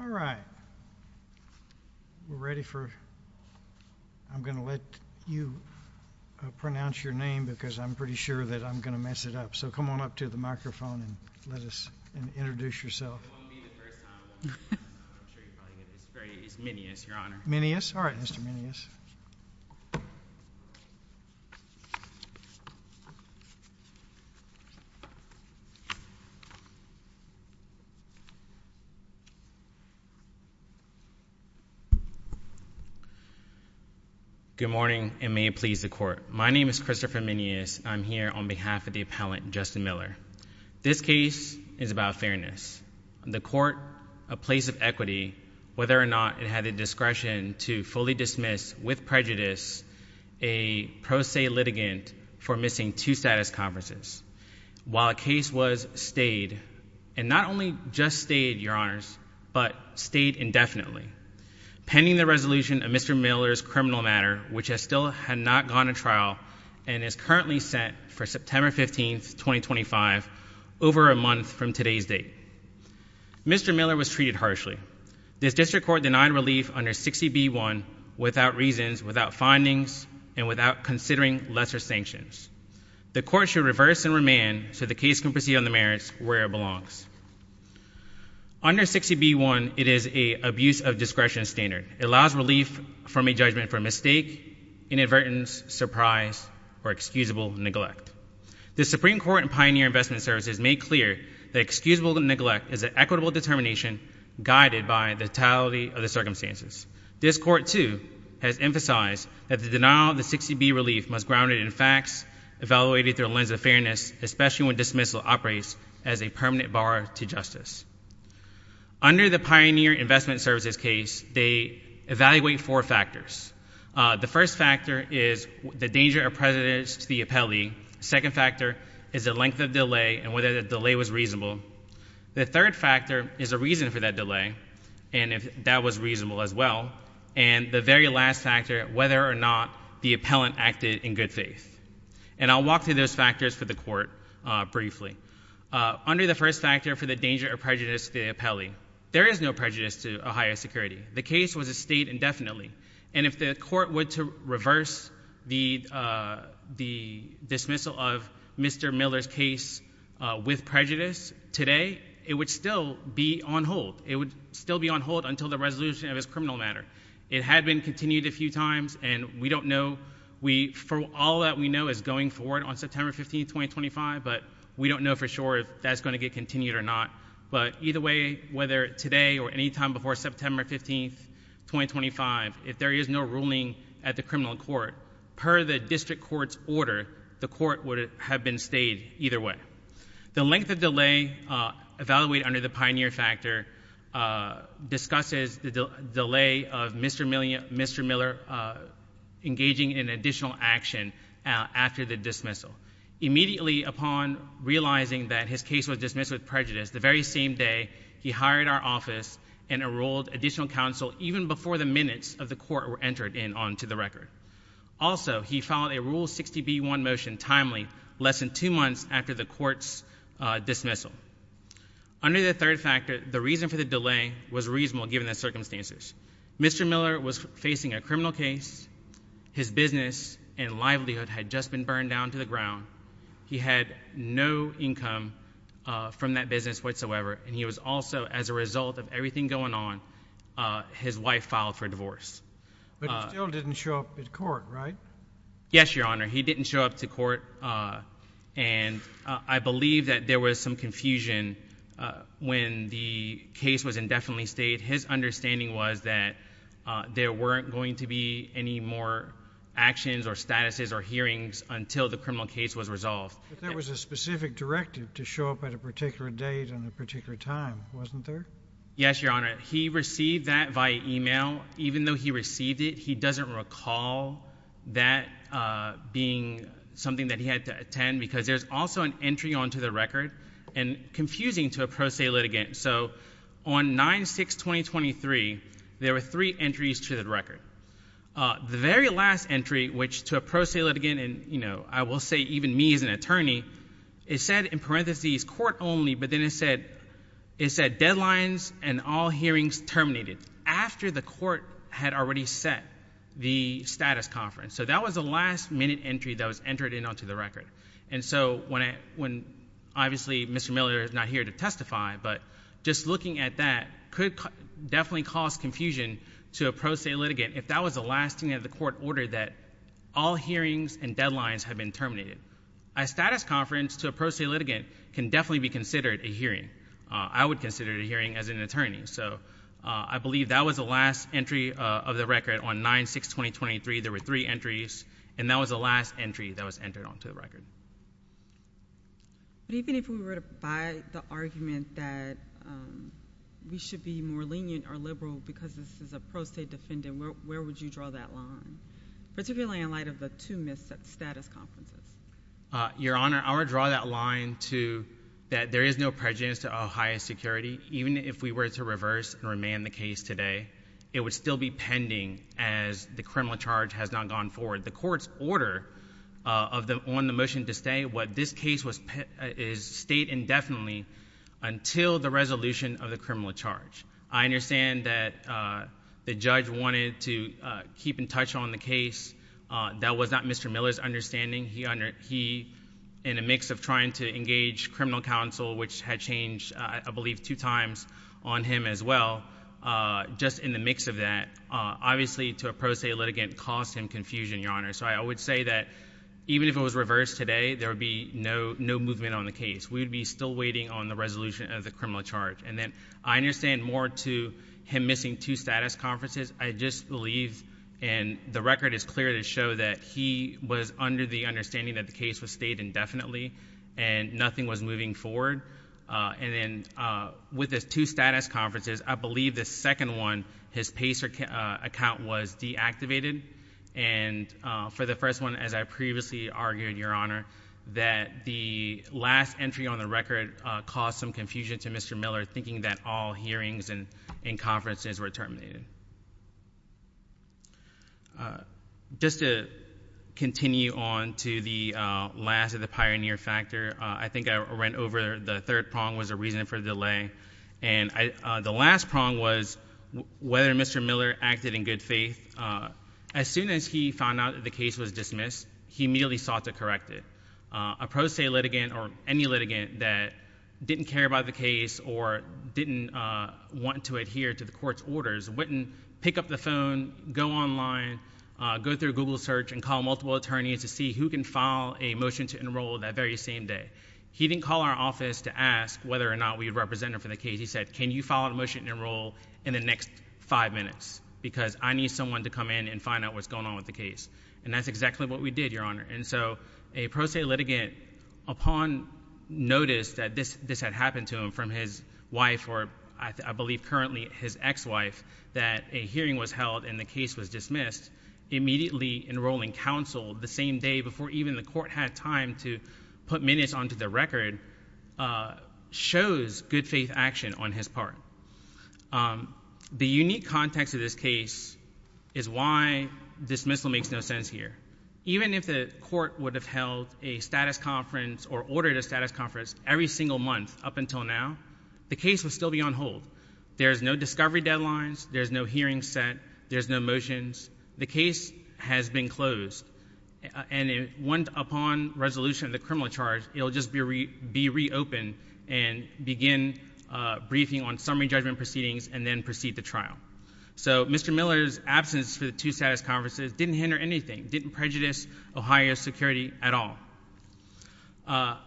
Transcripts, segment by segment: All right, we're ready for, I'm going to let you pronounce your name because I'm pretty sure that I'm going to mess it up, so come on up to the microphone and let us, and introduce yourself. It won't be the first time. I'm sure you're probably going to, it's very, it's Mineas, Your Honor. Mineas? All right, Mr. Mineas. Good morning, and may it please the Court. My name is Christopher Mineas. I'm here on behalf of the appellant, Justin Miller. This case is about fairness. The Court, a place of equity, whether or not it had the discretion to fully dismiss with prejudice a pro se litigant for missing two status conferences, while a case was stayed, and not only just stayed, Your Honors, but stayed indefinitely. Pending the resolution of Mr. Miller's criminal matter, which has still had not gone to trial and is currently set for September 15th, 2025, over a month from today's date, Mr. Miller was treated harshly. This district court denied relief under 60B1 without reasons, without findings, and without considering lesser sanctions. The Court should reverse and remand so the case can proceed on the merits where it belongs. Under 60B1, it is a abuse of discretion standard. It allows relief from a judgment for mistake, inadvertence, surprise, or excusable neglect. The Supreme Court and Pioneer Investment Services made clear that excusable neglect is an equitable determination guided by the totality of the circumstances. This Court, too, has emphasized that the denial of the 60B relief must be grounded in facts evaluated through a lens of fairness, especially when dismissal operates as a permanent bar to justice. Under the Pioneer Investment Services case, they evaluate four factors. The first factor is the danger or prejudice to the appellee. Second factor is the length of delay and whether the delay was reasonable. The third factor is a reason for that delay, and if that was reasonable as well. And the very last factor, whether or not the appellant acted in good faith. And I'll walk through those factors for the Court briefly. Under the first factor for the danger or prejudice to the appellee, there is no prejudice to Ohio Security. The case was a state indefinitely. And if the Court were to reverse the dismissal of Mr. Miller's case with prejudice today, it would still be on hold. It would still be on hold until the resolution of his criminal matter. It had been continued a few times, and we don't know. For all that we know, it's going forward on September 15th, 2025, but we don't know for sure if that's going to get continued or not. But either way, whether today or any time before September 15th, 2025, if there is no ruling at the criminal court, per the district court's order, the court would have been stayed either way. The length of delay evaluated under the Pioneer factor discusses the delay of Mr. Miller engaging in additional action after the dismissal. Immediately upon realizing that his case was dismissed with prejudice, the very same day he hired our office and enrolled additional counsel even before the minutes of the court were entered in onto the record. Also, he filed a Rule 60b-1 motion timely less than two months after the court's dismissal. Under the third factor, the reason for the delay was reasonable given the circumstances. Mr. Miller was facing a criminal case. His business and livelihood had just been burned down to the ground. He had no income from that business whatsoever, and he was also, as a result of everything going on, his wife filed for divorce. But he still didn't show up at court, right? Yes, Your Honor. He didn't show up to court, and I believe that there was some confusion when the case was indefinitely stayed. His understanding was that there weren't going to be any more actions or statuses or hearings until the criminal case was resolved. But there was a specific directive to show up at a particular date and a particular time, wasn't there? Yes, Your Honor. He received that via email. Even though he received it, he doesn't recall that being something that he had to attend because there's also an entry onto the record, and confusing to a pro se litigant. So on 9-6-2023, there were three entries to the record. The very last entry, which to a pro se litigant and, you know, I will say even me as an attorney, it said in parentheses, court only, but then it said deadlines and all hearings terminated after the court had already set the status conference. So that was the last minute entry that was entered in onto the record. And so when, obviously, Mr. Miller is not here to testify, but just looking at that could definitely cause confusion to a pro se litigant if that was the last thing that the court ordered that all hearings and deadlines have been terminated. A status conference to a pro se litigant can definitely be considered a hearing. I would consider it a hearing as an attorney. So I believe that was the last entry of the record on 9-6-2023. There were three entries, and that was the last entry that was entered onto the record. But even if we were to buy the argument that we should be more lenient or liberal because this is a pro se defendant, where would you draw that line, particularly in light of the two missed status conferences? Your Honor, I would draw that line to that there is no prejudice to Ohio security. Even if we were to reverse and remand the case today, it would still be pending as the criminal charge has not gone forward. The court's order on the motion to stay, what this case is, stayed indefinitely until the resolution of the criminal charge. I understand that the judge wanted to keep in touch on the case. That was not Mr. Miller's understanding. He, in a mix of trying to engage criminal counsel, which had changed, I believe, two times on him as well, just in the mix of that, obviously to a pro se litigant caused him confusion, Your Honor. So I would say that even if it was reversed today, there would be no movement on the case. We would be still waiting on the resolution of the criminal charge. And then I understand more to him missing two status conferences. I just believe, and the record is clear to show that he was under the understanding that the case was stayed indefinitely and nothing was moving forward. And then with his two status conferences, I believe the second one, his PACER account was deactivated. And for the first one, as I previously argued, Your Honor, that the last entry on the record caused some confusion to Mr. Miller, thinking that all hearings and conferences were terminated. Just to continue on to the last of the pioneer factor, I think I went over the third prong was the reason for the delay. And the last prong was whether Mr. Miller acted in good faith. As soon as he found out that the case was dismissed, he immediately sought to correct it. A pro se litigant or any litigant that didn't care about the case or didn't want to adhere to the court's orders wouldn't pick up the phone, go online, go through Google search and call multiple attorneys to see who can file a motion to enroll that very same day. He didn't call our office to ask whether or not we'd represent him for the case. He said, can you file a motion to enroll in the next five minutes because I need someone to come in and find out what's going on with the case. And that's exactly what we did, Your Honor. And so a pro se litigant, upon notice that this had happened to him from his wife or, I believe, currently his ex-wife, that a hearing was held and the case was dismissed, immediately enrolling counsel the same day before even the court had time to put minutes onto the record, shows good faith action on his part. The unique context of this case is why dismissal makes no sense here. Even if the court would have held a status conference or ordered a status conference every single month up until now, the case would still be on hold. There's no discovery deadlines. There's no hearing set. There's no motions. The case has been closed. And upon resolution of the criminal charge, it'll just be reopened and begin briefing on summary judgment proceedings and then proceed to trial. So Mr. Miller's absence for the two status conferences didn't hinder anything, didn't prejudice Ohio's security at all.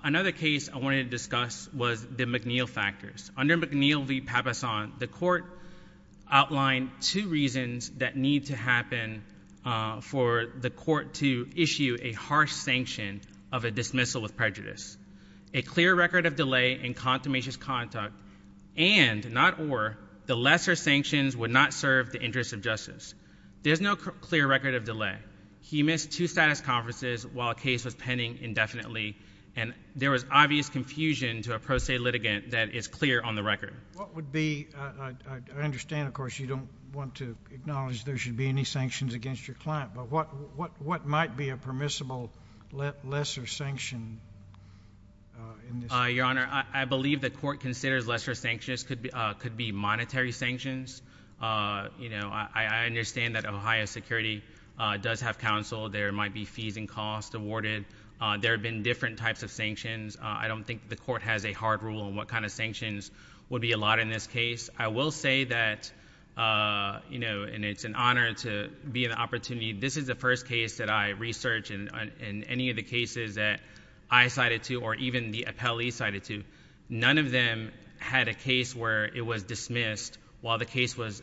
Another case I wanted to discuss was the McNeil factors. Under McNeil v. Papasan, the court outlined two reasons that need to happen for the court to issue a harsh sanction of a dismissal with prejudice. A clear record of delay in consummation's conduct and, not or, the lesser sanctions would not serve the interest of justice. There's no clear record of delay. He missed two status conferences while a case was pending indefinitely. And there was obvious confusion to a pro se litigant that is clear on the record. What would be, I understand, of course, you don't want to acknowledge there should be any sanctions against your client, but what might be a permissible lesser sanction? Your Honor, I believe the court considers lesser sanctions could be monetary sanctions. You know, I understand that Ohio security does have counsel. There might be fees and costs awarded. There have been different types of sanctions. I don't think the court has a hard rule on what kind of sanctions would be allotted in this case. I will say that, you know, and it's an honor to be in the opportunity, this is the first case that I researched and any of the cases that I cited to or even the appellee cited to, none of them had a case where it was dismissed while the case was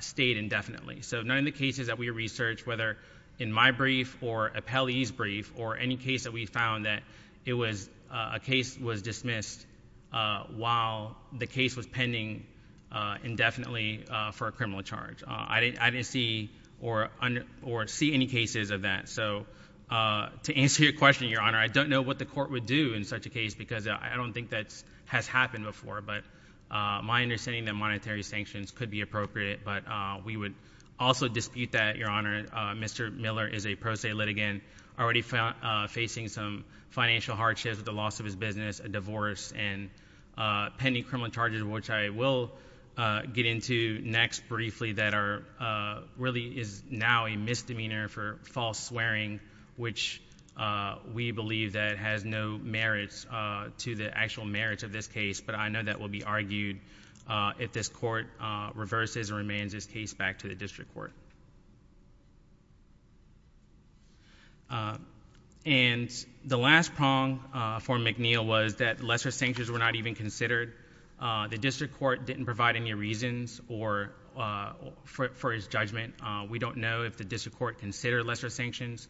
stayed indefinitely. So none of the cases that we researched, whether in my brief or appellee's brief or any case that we found that it was a case was dismissed while the case was pending indefinitely for a criminal charge. I didn't see or see any cases of that. So to answer your question, Your Honor, I don't know what the court would do in such a case because I don't think that has happened before, but my understanding that monetary sanctions could be appropriate, but we would also dispute that, Your Honor. Mr. Miller is a pro se litigant, already facing some financial hardships with the loss of his business, a divorce, and pending criminal charges, which I will get into next briefly that are really is now a misdemeanor for false swearing, which we believe that has no merits to the actual merits of this case, but I know that will be argued if this court reverses or remains this case back to the district court. And the last prong for McNeil was that lesser sanctions were not even considered. The district court didn't provide any reasons for his judgment. We don't know if the district court considered lesser sanctions.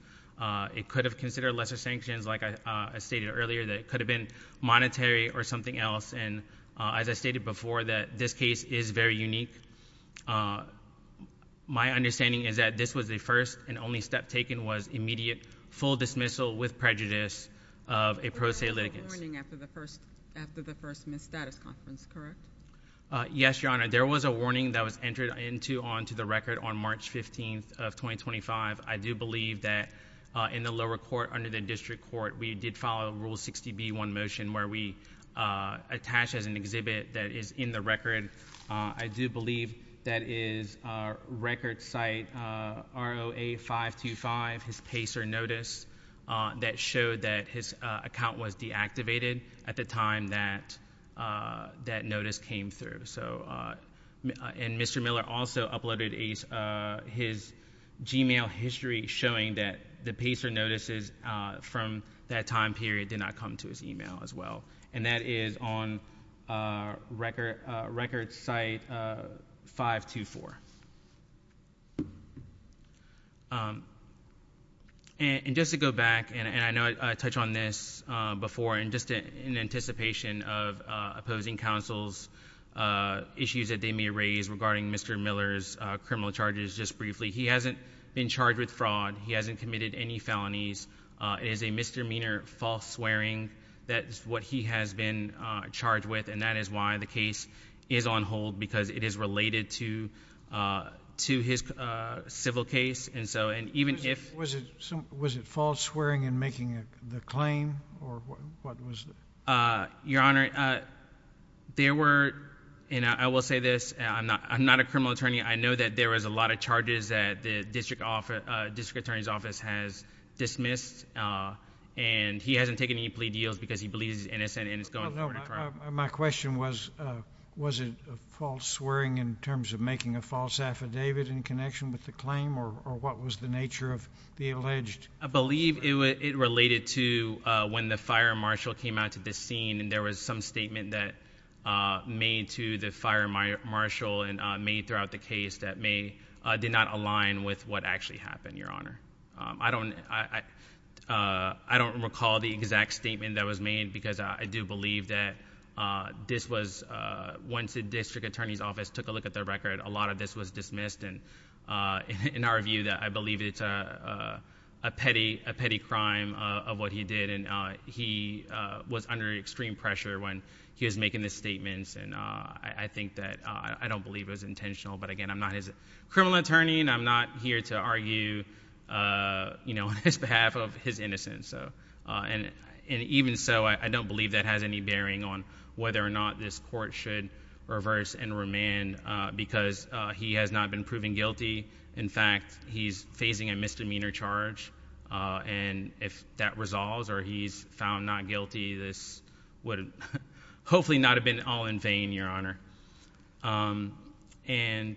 It could have considered lesser sanctions, like I stated earlier, that it could have been monetary or something else, and as I stated before, that this case is very unique. My understanding is that this was the first and only step taken was immediate full dismissal with prejudice of a pro se litigant. There was a warning after the first misstatus conference, correct? Yes, Your Honor. There was a warning that was entered into on to the record on March 15th of 2025. I do believe that in the lower court under the district court, we did follow Rule 60B1 motion where we attach as an exhibit that is in the record. I do believe that is a record site, ROA 525, his PACER notice that showed that his account was deactivated at the time that that notice came through. So, and Mr. Miller also uploaded his Gmail history showing that the PACER notices from that time period did not come to his email as well. And that is on record site 524. And just to go back, and I know I touched on this before, and just in anticipation of opposing counsel's issues that they may raise regarding Mr. Miller's criminal charges, just briefly, he hasn't been charged with fraud. He hasn't committed any felonies. It is a misdemeanor false swearing. That's what he has been charged with. And that is why the case is on hold because it is related to his civil case. And so, and even if... Was it false swearing in making the claim or what was... Your Honor, there were, and I will say this, I'm not a criminal attorney. I know that there was a lot of charges that the district attorney's office has dismissed. And he hasn't taken any plea deals because he believes he's innocent and is going forward with a crime. My question was, was it false swearing in terms of making a false affidavit in connection with the claim or what was the nature of the alleged... I don't recall the exact statement that was made because I do believe that this was, once the district attorney's office took a look at the record, a lot of this was dismissed and in our view, I believe it's a petty crime of what he did. And he was under extreme pressure when he was making the statements and I think that... I don't believe it was intentional. But again, I'm not his criminal attorney and I'm not here to argue, you know, on his behalf of his innocence. And even so, I don't believe that has any bearing on whether or not this court should reverse and remand because he has not been proven guilty. In fact, he's facing a misdemeanor charge and if that resolves or he's found not guilty, this would hopefully not have been all in vain, Your Honor. And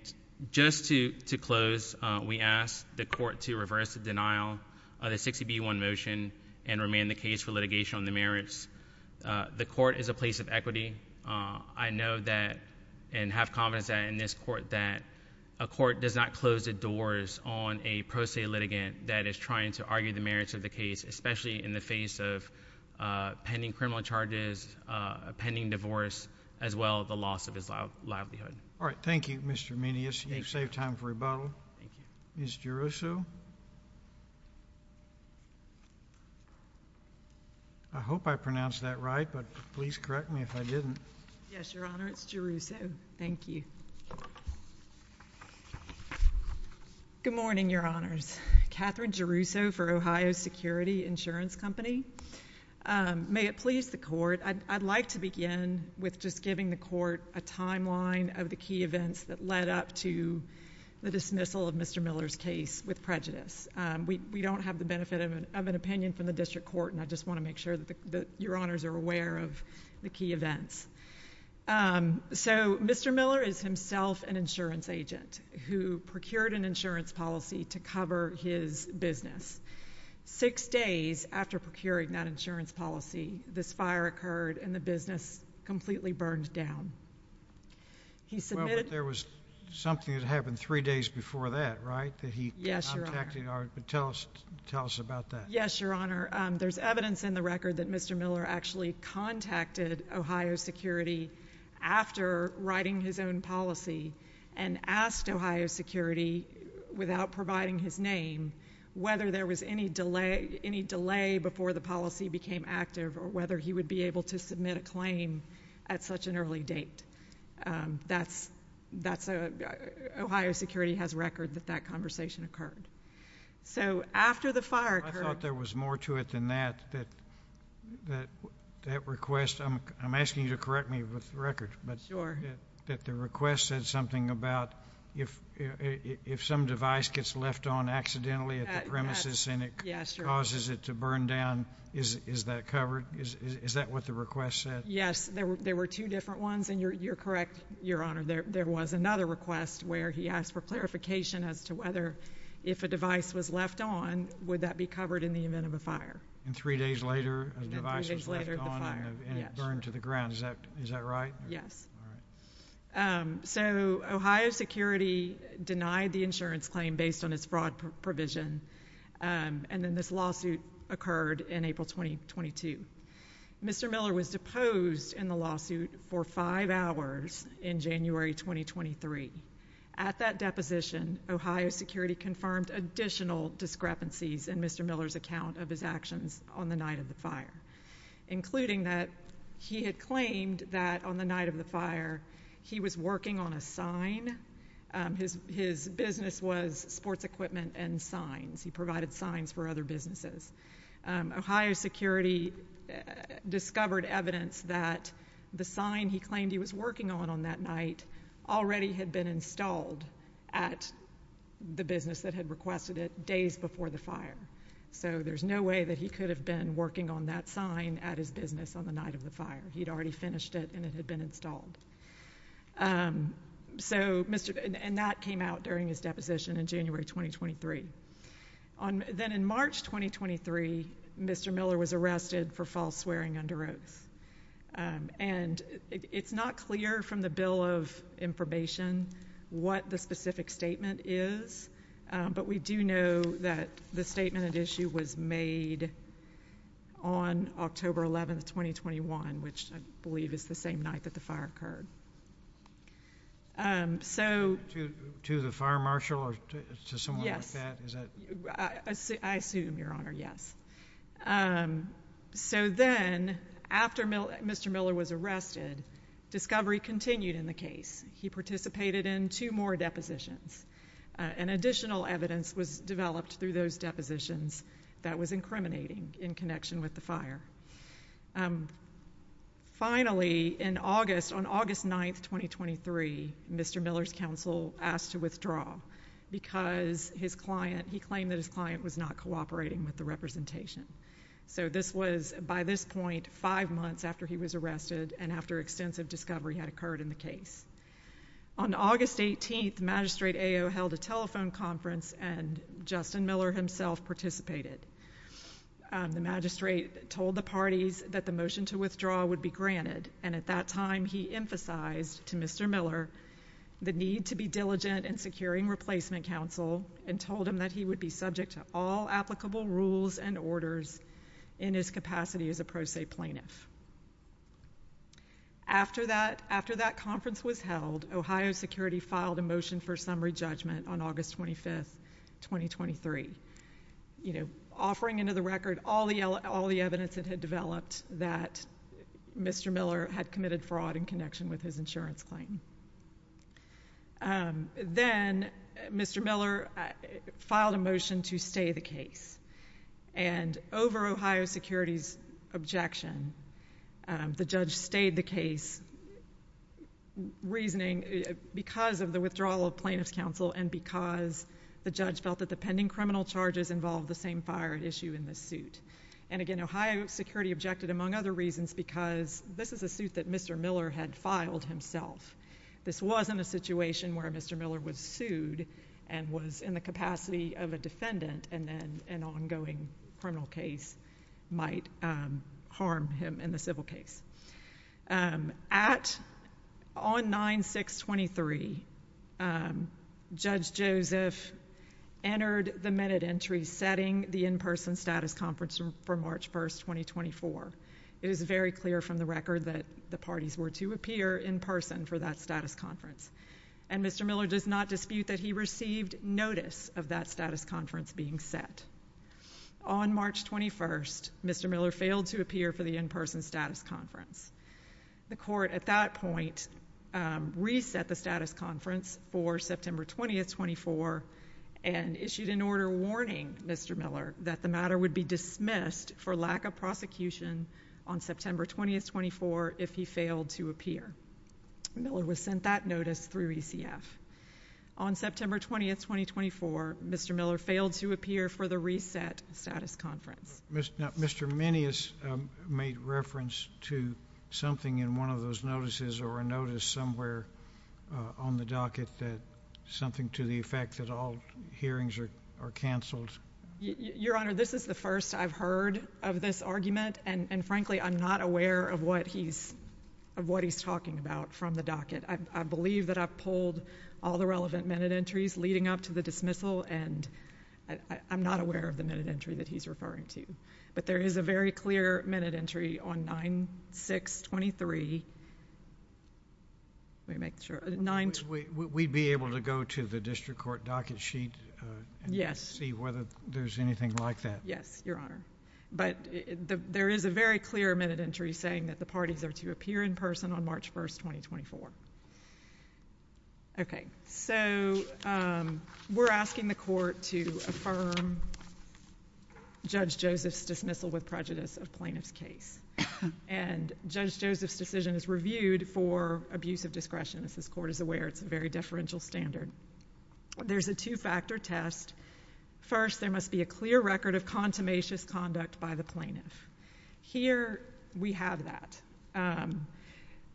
just to close, we asked the court to reverse the denial of the 60B1 motion and remand the case for litigation on the merits. The court is a place of equity. I know that and have confidence that in this court that a court does not close the doors on a pro se litigant that is trying to argue the merits of the case, especially in the face of pending criminal charges, pending divorce, as well as the loss of his livelihood. All right. Thank you, Mr. Menias. You've saved time for rebuttal. Thank you. Ms. Jerusso? I hope I pronounced that right, but please correct me if I didn't. Yes, Your Honor. It's Jerusso. Thank you. Good morning, Your Honors. Katherine Jerusso for Ohio Security Insurance Company. May it please the Court, I'd like to begin with just giving the Court a timeline of the events that led up to the dismissal of Mr. Miller's case with prejudice. We don't have the benefit of an opinion from the district court, and I just want to make sure that Your Honors are aware of the key events. So Mr. Miller is himself an insurance agent who procured an insurance policy to cover his business. Six days after procuring that insurance policy, this fire occurred and the business completely burned down. Well, but there was something that happened three days before that, right, that he contacted our — tell us about that. Yes, Your Honor. There's evidence in the record that Mr. Miller actually contacted Ohio Security after writing his own policy and asked Ohio Security, without providing his name, whether there was any delay before the policy became active or whether he would be able to submit a claim at such an early date. That's — Ohio Security has record that that conversation occurred. So after the fire occurred — I thought there was more to it than that, that that request — I'm asking you to correct me with the record — Sure. — but that the request said something about if some device gets left on accidentally at the premises — Yes, Your Honor. — and it causes it to burn down, is that covered? Is that what the request said? Yes. There were two different ones, and you're correct, Your Honor, there was another request where he asked for clarification as to whether, if a device was left on, would that be covered in the event of a fire. And three days later, a device was left on and it burned to the ground. Is that right? Yes. All right. So Ohio Security denied the insurance claim based on its fraud provision, and then this lawsuit occurred in April 2022. Mr. Miller was deposed in the lawsuit for five hours in January 2023. At that deposition, Ohio Security confirmed additional discrepancies in Mr. Miller's account of his actions on the night of the fire, including that he had claimed that, on the night of the fire, he was working on a sign. His business was sports equipment and signs. He provided signs for other businesses. Ohio Security discovered evidence that the sign he claimed he was working on on that night already had been installed at the business that had requested it days before the fire. So there's no way that he could have been working on that sign at his business on the night of the fire. He'd already finished it and it had been installed. So Mr. — and that came out during his deposition in January 2023. Then in March 2023, Mr. Miller was arrested for false swearing under oath. And it's not clear from the Bill of Information what the specific statement is, but we do know that the statement at issue was made on October 11, 2021, which I believe is the same night that the fire occurred. So — Is that — I assume, Your Honor, yes. So then, after Mr. Miller was arrested, discovery continued in the case. He participated in two more depositions. And additional evidence was developed through those depositions that was incriminating in connection with the fire. Finally, in August — on August 9, 2023, Mr. Miller's counsel asked to withdraw because his client — he claimed that his client was not cooperating with the representation. So this was, by this point, five months after he was arrested and after extensive discovery had occurred in the case. On August 18, Magistrate Ayo held a telephone conference and Justin Miller himself participated. The magistrate told the parties that the motion to withdraw would be granted, and at that time he emphasized to Mr. Miller the need to be diligent in securing replacement counsel and told him that he would be subject to all applicable rules and orders in his capacity as a pro se plaintiff. After that — after that conference was held, Ohio Security filed a motion for summary judgment on August 25, 2023, you know, offering into the record all the evidence that had developed that Mr. Miller had committed fraud in connection with his insurance claim. Then Mr. Miller filed a motion to stay the case. And over Ohio Security's objection, the judge stayed the case, reasoning — because of the withdrawal of plaintiff's counsel and because the judge felt that the pending criminal charges involved the same fire at issue in this suit. And again, Ohio Security objected, among other reasons, because this is a suit that Mr. Miller had filed himself. This wasn't a situation where Mr. Miller was sued and was in the capacity of a defendant and then an ongoing criminal case might harm him in the civil case. At — on 9-6-23, Judge Joseph entered the minute entry setting the in-person status conference for March 1, 2024. It is very clear from the record that the parties were to appear in person for that status conference. And Mr. Miller does not dispute that he received notice of that status conference being set. On March 21, Mr. Miller failed to appear for the in-person status conference. The court, at that point, reset the status conference for September 20, 2024, and issued an order warning Mr. Miller that the matter would be dismissed for lack of prosecution on September 20, 2024, if he failed to appear. Miller was sent that notice through ECF. On September 20, 2024, Mr. Miller failed to appear for the reset status conference. Mr. Minious made reference to something in one of those notices or a notice somewhere on the docket that — something to the effect that all hearings are — are canceled. Your Honor, this is the first I've heard of this argument, and, frankly, I'm not aware of what he's — of what he's talking about from the docket. I believe that I've pulled all the relevant minute entries leading up to the dismissal, and I'm not aware of the minute entry that he's referring to. But there is a very clear minute entry on 9623 — let me make sure — We'd be able to go to the district court docket sheet and see whether there's anything like that. Yes, Your Honor. But there is a very clear minute entry saying that the parties are to appear in person on March 1, 2024. Okay. So we're asking the court to affirm Judge Joseph's dismissal with prejudice of plaintiff's case. And Judge Joseph's decision is reviewed for abuse of discretion. As this court is aware, it's a very deferential standard. There's a two-factor test. First, there must be a clear record of contumacious conduct by the plaintiff. Here we have that.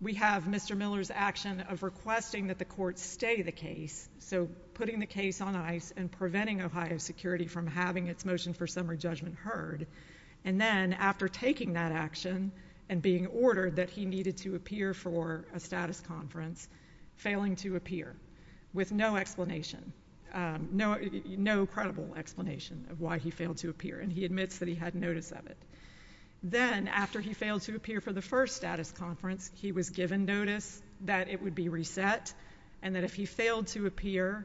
We have Mr. Miller's action of requesting that the court stay the case, so putting the case on ice and preventing Ohio Security from having its motion for summary judgment heard. And then, after taking that action and being ordered that he needed to appear for a status conference, failing to appear with no explanation — no credible explanation of why he failed to appear, and he admits that he had notice of it. Then, after he failed to appear for the first status conference, he was given notice that it would be reset, and that if he failed to appear,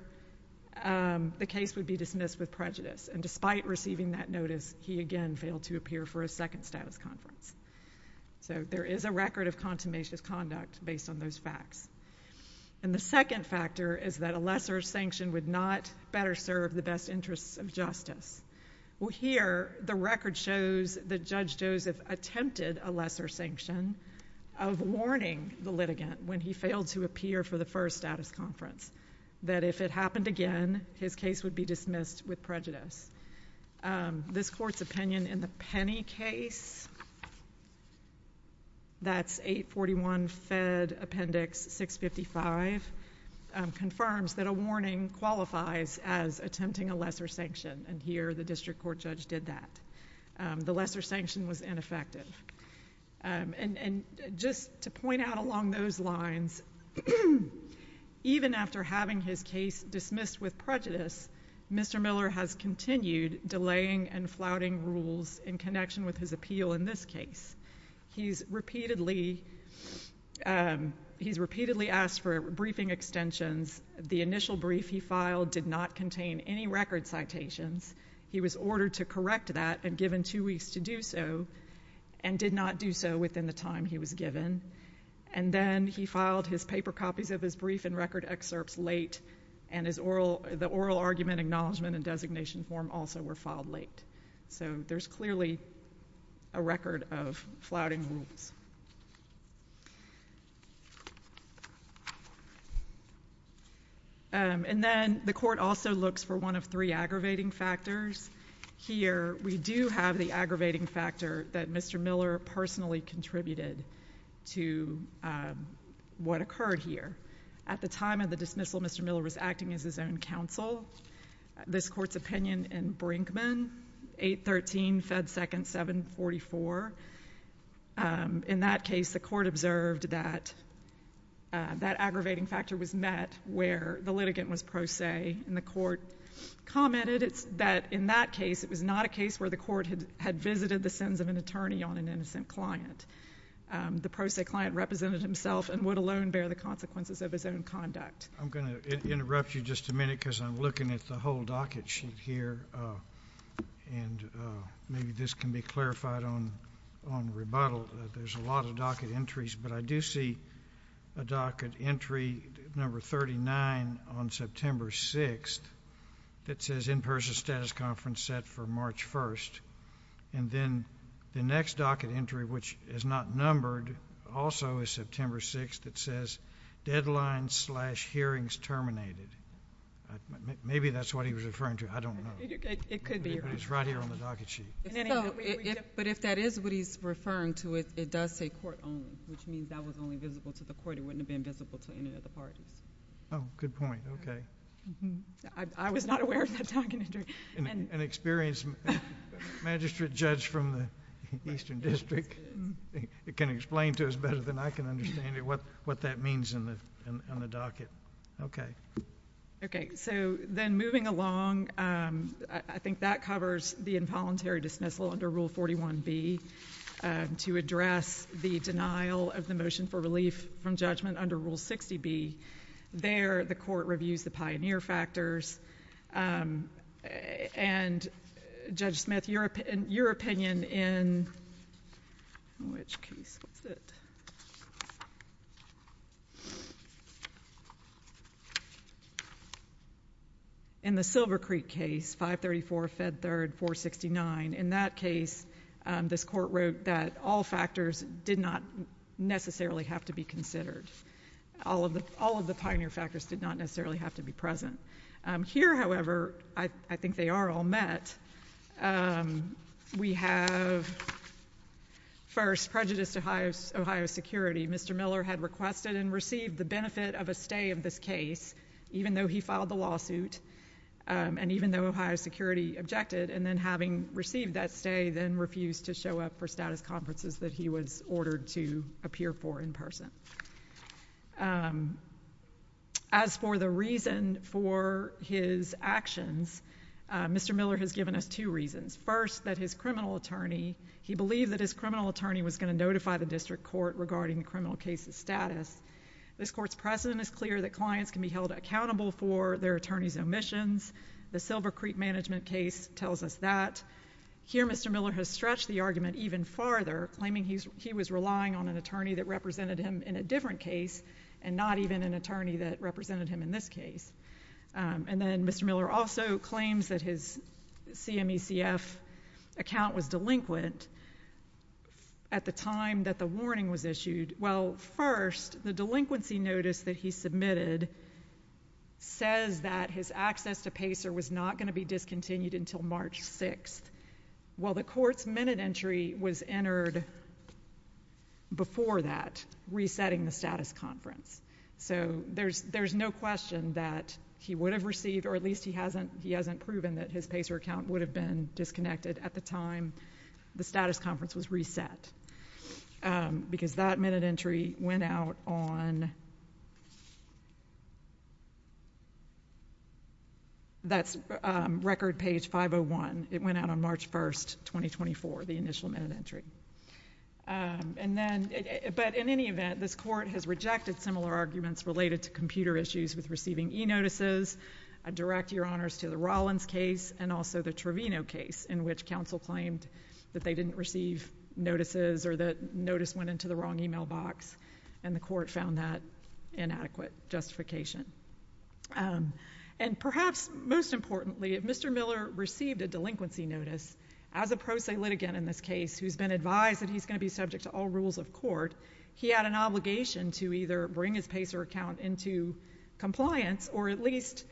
the case would be dismissed with prejudice. And despite receiving that notice, he again failed to appear for a second status conference. So there is a record of contumacious conduct based on those facts. And the second factor is that a lesser sanction would not better serve the best interests of justice. Well, here, the record shows that Judge Joseph attempted a lesser sanction of warning the litigant when he failed to appear for the first status conference, that if it happened again, his case would be dismissed with prejudice. This Court's opinion in the Penney case — that's 841 Fed Appendix 655 — confirms that a warning qualifies as attempting a lesser sanction, and here the district court judge did that. The lesser sanction was ineffective. And just to point out along those lines, even after having his case dismissed with prejudice, Mr. Miller has continued delaying and flouting rules in connection with his appeal in this case. He's repeatedly — he's repeatedly asked for briefing extensions. The initial brief he filed did not contain any record citations. He was ordered to correct that and given two weeks to do so, and did not do so within the time he was given. And then he filed his paper copies of his brief and record excerpts late, and the oral argument acknowledgement and designation form also were filed late. So there's clearly a record of flouting rules. And then the Court also looks for one of three aggravating factors. Here, we do have the aggravating factor that Mr. Miller personally contributed to what occurred here. At the time of the dismissal, Mr. Miller was acting as his own counsel. This Court's opinion in Brinkman, 813 Fed Second 744, in that case the Court observed that that aggravating factor was met where the litigant was pro se, and the Court commented that in that case it was not a case where the Court had visited the sins of an attorney on an innocent client. The pro se client represented himself and would alone bear the consequences of his own conduct. I'm going to interrupt you just a minute because I'm looking at the whole docket sheet here, and maybe this can be clarified on rebuttal, that there's a lot of docket entries, but I do see a docket entry number 39 on September 6th that says in-person status conference set for March 1st. And then the next docket entry, which is not numbered, also is September 6th, that says deadline slash hearings terminated. Maybe that's what he was referring to. I don't know. It could be. It's right here on the docket sheet. But if that is what he's referring to, it does say court only, which means that was only visible to the Court. It wouldn't have been visible to any of the parties. Oh, good point. Okay. I was not aware of that docket entry. An experienced magistrate judge from the Eastern District can explain to us better than I can understand what that means on the docket. Okay. Okay. So then moving along, I think that covers the involuntary dismissal under Rule 41B to address the denial of the motion for relief from judgment under Rule 60B. There, the Court reviews the pioneer factors. And Judge Smith, your opinion in which case was it? In the Silver Creek case, 534, Fed Third, 469, in that case, this Court wrote that all factors did not necessarily have to be considered. All of the pioneer factors did not necessarily have to be present. Here, however, I think they are all met. We have, first, prejudice to Ohio's security. Mr. Miller had requested and received the benefit of a stay of this case, even though he filed the lawsuit, and even though Ohio's security objected, and then having received that stay, then refused to show up for status conferences that he was ordered to appear for in person. As for the reason for his actions, Mr. Miller has given us two reasons. First, that his criminal attorney, he believed that his criminal attorney was going to notify the district court regarding the criminal case's status. This Court's precedent is clear that clients can be held accountable for their attorney's omissions. The Silver Creek management case tells us that. Here, Mr. Miller has stretched the argument even farther, claiming he was relying on an attorney that represented him in a different case, and not even an attorney that represented him in this case. And then Mr. Miller also claims that his CMECF account was delinquent at the time that the warning was issued. Well, first, the delinquency notice that he submitted says that his access to PACER was not going to be discontinued until March 6th. Well, the Court's minute entry was entered before that, resetting the status conference. So there's no question that he would have received, or at least he hasn't proven that his PACER account would have been disconnected at the time the status conference was reset. Because that minute entry went out on, that's record page 501. It went out on March 1st, 2024, the initial minute entry. And then, but in any event, this Court has rejected similar arguments related to computer and also the Trevino case, in which counsel claimed that they didn't receive notices or that notice went into the wrong e-mail box, and the Court found that inadequate justification. And perhaps most importantly, if Mr. Miller received a delinquency notice, as a pro se litigant in this case who's been advised that he's going to be subject to all rules of court, he had an obligation to either bring his PACER account into compliance, or at least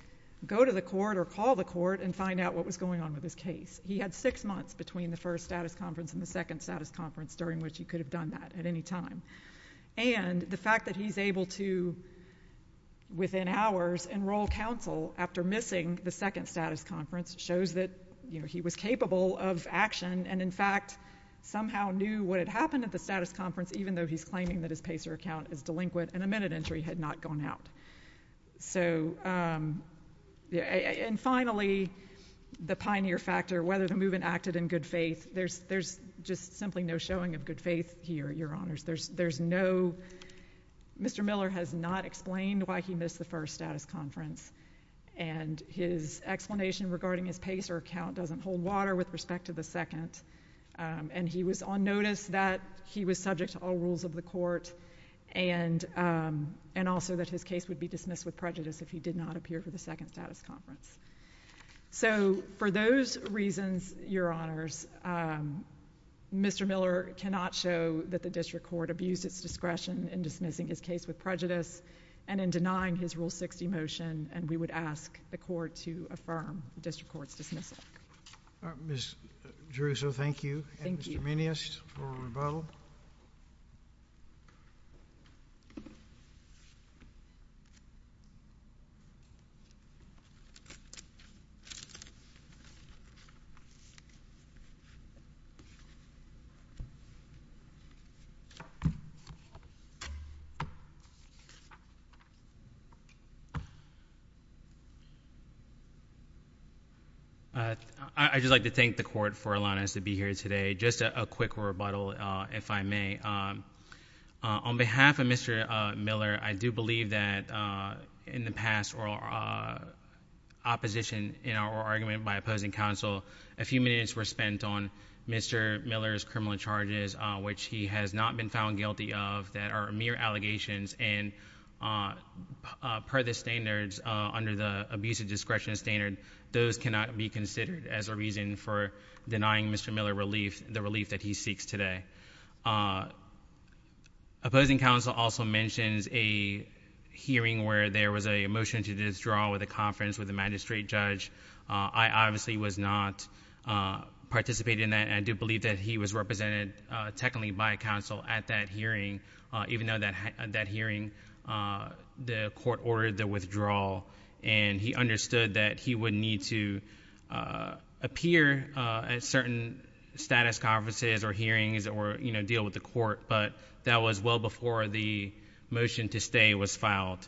go to the Court or call the Court and find out what was going on with his case. He had six months between the first status conference and the second status conference during which he could have done that at any time. And the fact that he's able to, within hours, enroll counsel after missing the second status conference shows that he was capable of action, and in fact, somehow knew what had happened at the status conference, even though he's claiming that his PACER account is delinquent and a minute entry had not gone out. So, and finally, the pioneer factor, whether the movement acted in good faith. There's just simply no showing of good faith here, Your Honors. There's no—Mr. Miller has not explained why he missed the first status conference, and his explanation regarding his PACER account doesn't hold water with respect to the second. And he was on notice that he was subject to all rules of the Court, and also that his case would be dismissed with prejudice if he did not appear for the second status conference. So for those reasons, Your Honors, Mr. Miller cannot show that the District Court abused its discretion in dismissing his case with prejudice and in denying his Rule 60 motion, and we would ask the Court to affirm the District Court's dismissal. Ms. Jerusalem, thank you, and Mr. Meneas for rebuttal. I'd just like to thank the Court for allowing us to be here today. Just a quick rebuttal, if I may. On behalf of Mr. Miller, I do believe that in the past, or opposition in our argument by opposing counsel, a few minutes were spent on Mr. Miller's criminal charges, which he has not been found guilty of, that are mere allegations, and per the standards, under the abusive discretion standard, those cannot be considered as a reason for denying Mr. Miller the relief that he seeks today. Opposing counsel also mentions a hearing where there was a motion to withdraw the conference with the magistrate judge. I obviously was not participating in that, and I do believe that he was represented technically by counsel at that hearing, even though at that hearing, the Court ordered the withdrawal, and he understood that he would need to appear at certain status conferences or hearings or deal with the Court, but that was well before the motion to stay was filed.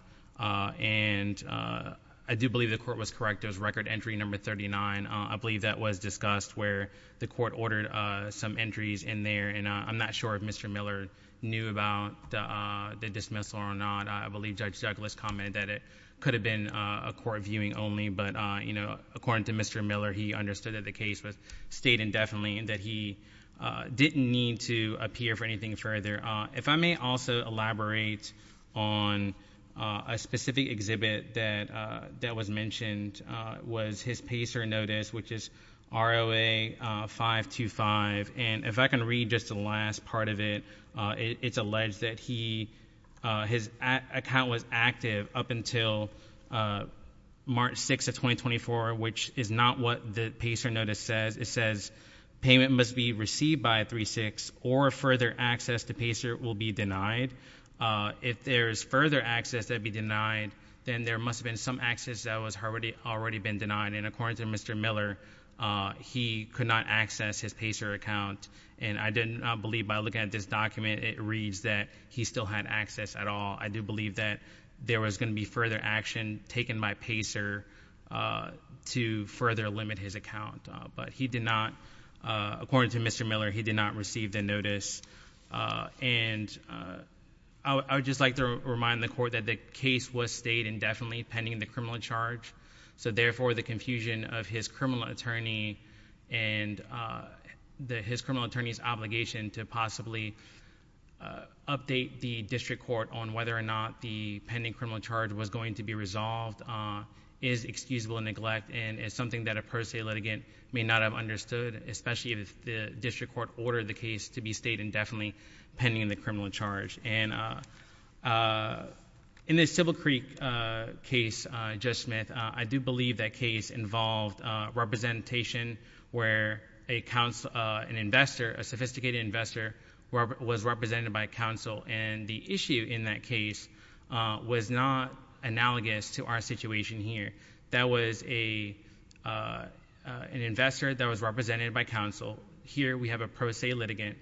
I do believe the Court was correct, it was record entry number 39. I believe that was discussed where the Court ordered some entries in there, and I'm not sure if Mr. Miller knew about the dismissal or not. I believe Judge Douglas commented that it could have been a Court viewing only, but according to Mr. Miller, he understood that the case was stayed indefinitely and that he didn't need to appear for anything further. If I may also elaborate on a specific exhibit that was mentioned, was his PACER notice, which is ROA 525, and if I can read just the last part of it, it's alleged that he has his account was active up until March 6 of 2024, which is not what the PACER notice says. It says payment must be received by 3-6 or further access to PACER will be denied. If there's further access that would be denied, then there must have been some access that was already been denied, and according to Mr. Miller, he could not access his PACER account, and I do not believe by looking at this document, it reads that he still had access at all. I do believe that there was going to be further action taken by PACER to further limit his account, but he did not, according to Mr. Miller, he did not receive the notice, and I would just like to remind the Court that the case was stayed indefinitely pending the criminal charge, so therefore, the confusion of his criminal attorney and the his criminal attorney's obligation to possibly update the District Court on whether or not the pending criminal charge was going to be resolved is excusable neglect, and is something that a per se litigant may not have understood, especially if the District Court ordered the case to be stayed indefinitely pending the criminal charge. In the Civil Creek case, Judge Smith, I do believe that case involved representation where an investor, a sophisticated investor, was represented by counsel, and the issue in that case was not analogous to our situation here. That was an investor that was represented by counsel. Here, we have a per se litigant.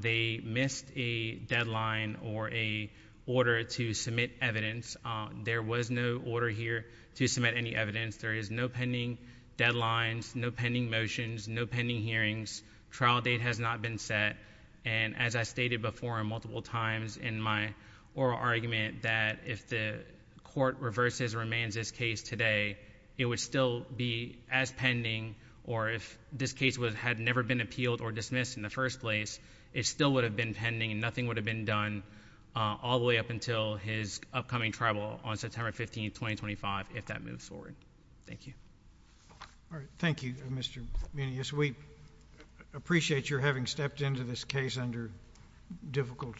They missed a deadline or a order to submit evidence. There was no order here to submit any evidence. There is no pending deadlines, no pending motions, no pending hearings. Trial date has not been set, and as I stated before multiple times in my oral argument that if the Court reverses or amends this case today, it would still be as pending, or if this case had never been appealed or dismissed in the first place, it still would have been pending, and nothing would have been done all the way up until his upcoming tribal on September 15, 2025, if that moves forward. Thank you. All right. Thank you, Mr. Munoz. We appreciate your having stepped into this case under difficult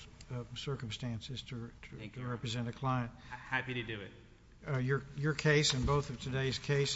circumstances to represent a client. Thank you. Happy to do it. Your case and both of today's cases, I think, are very important.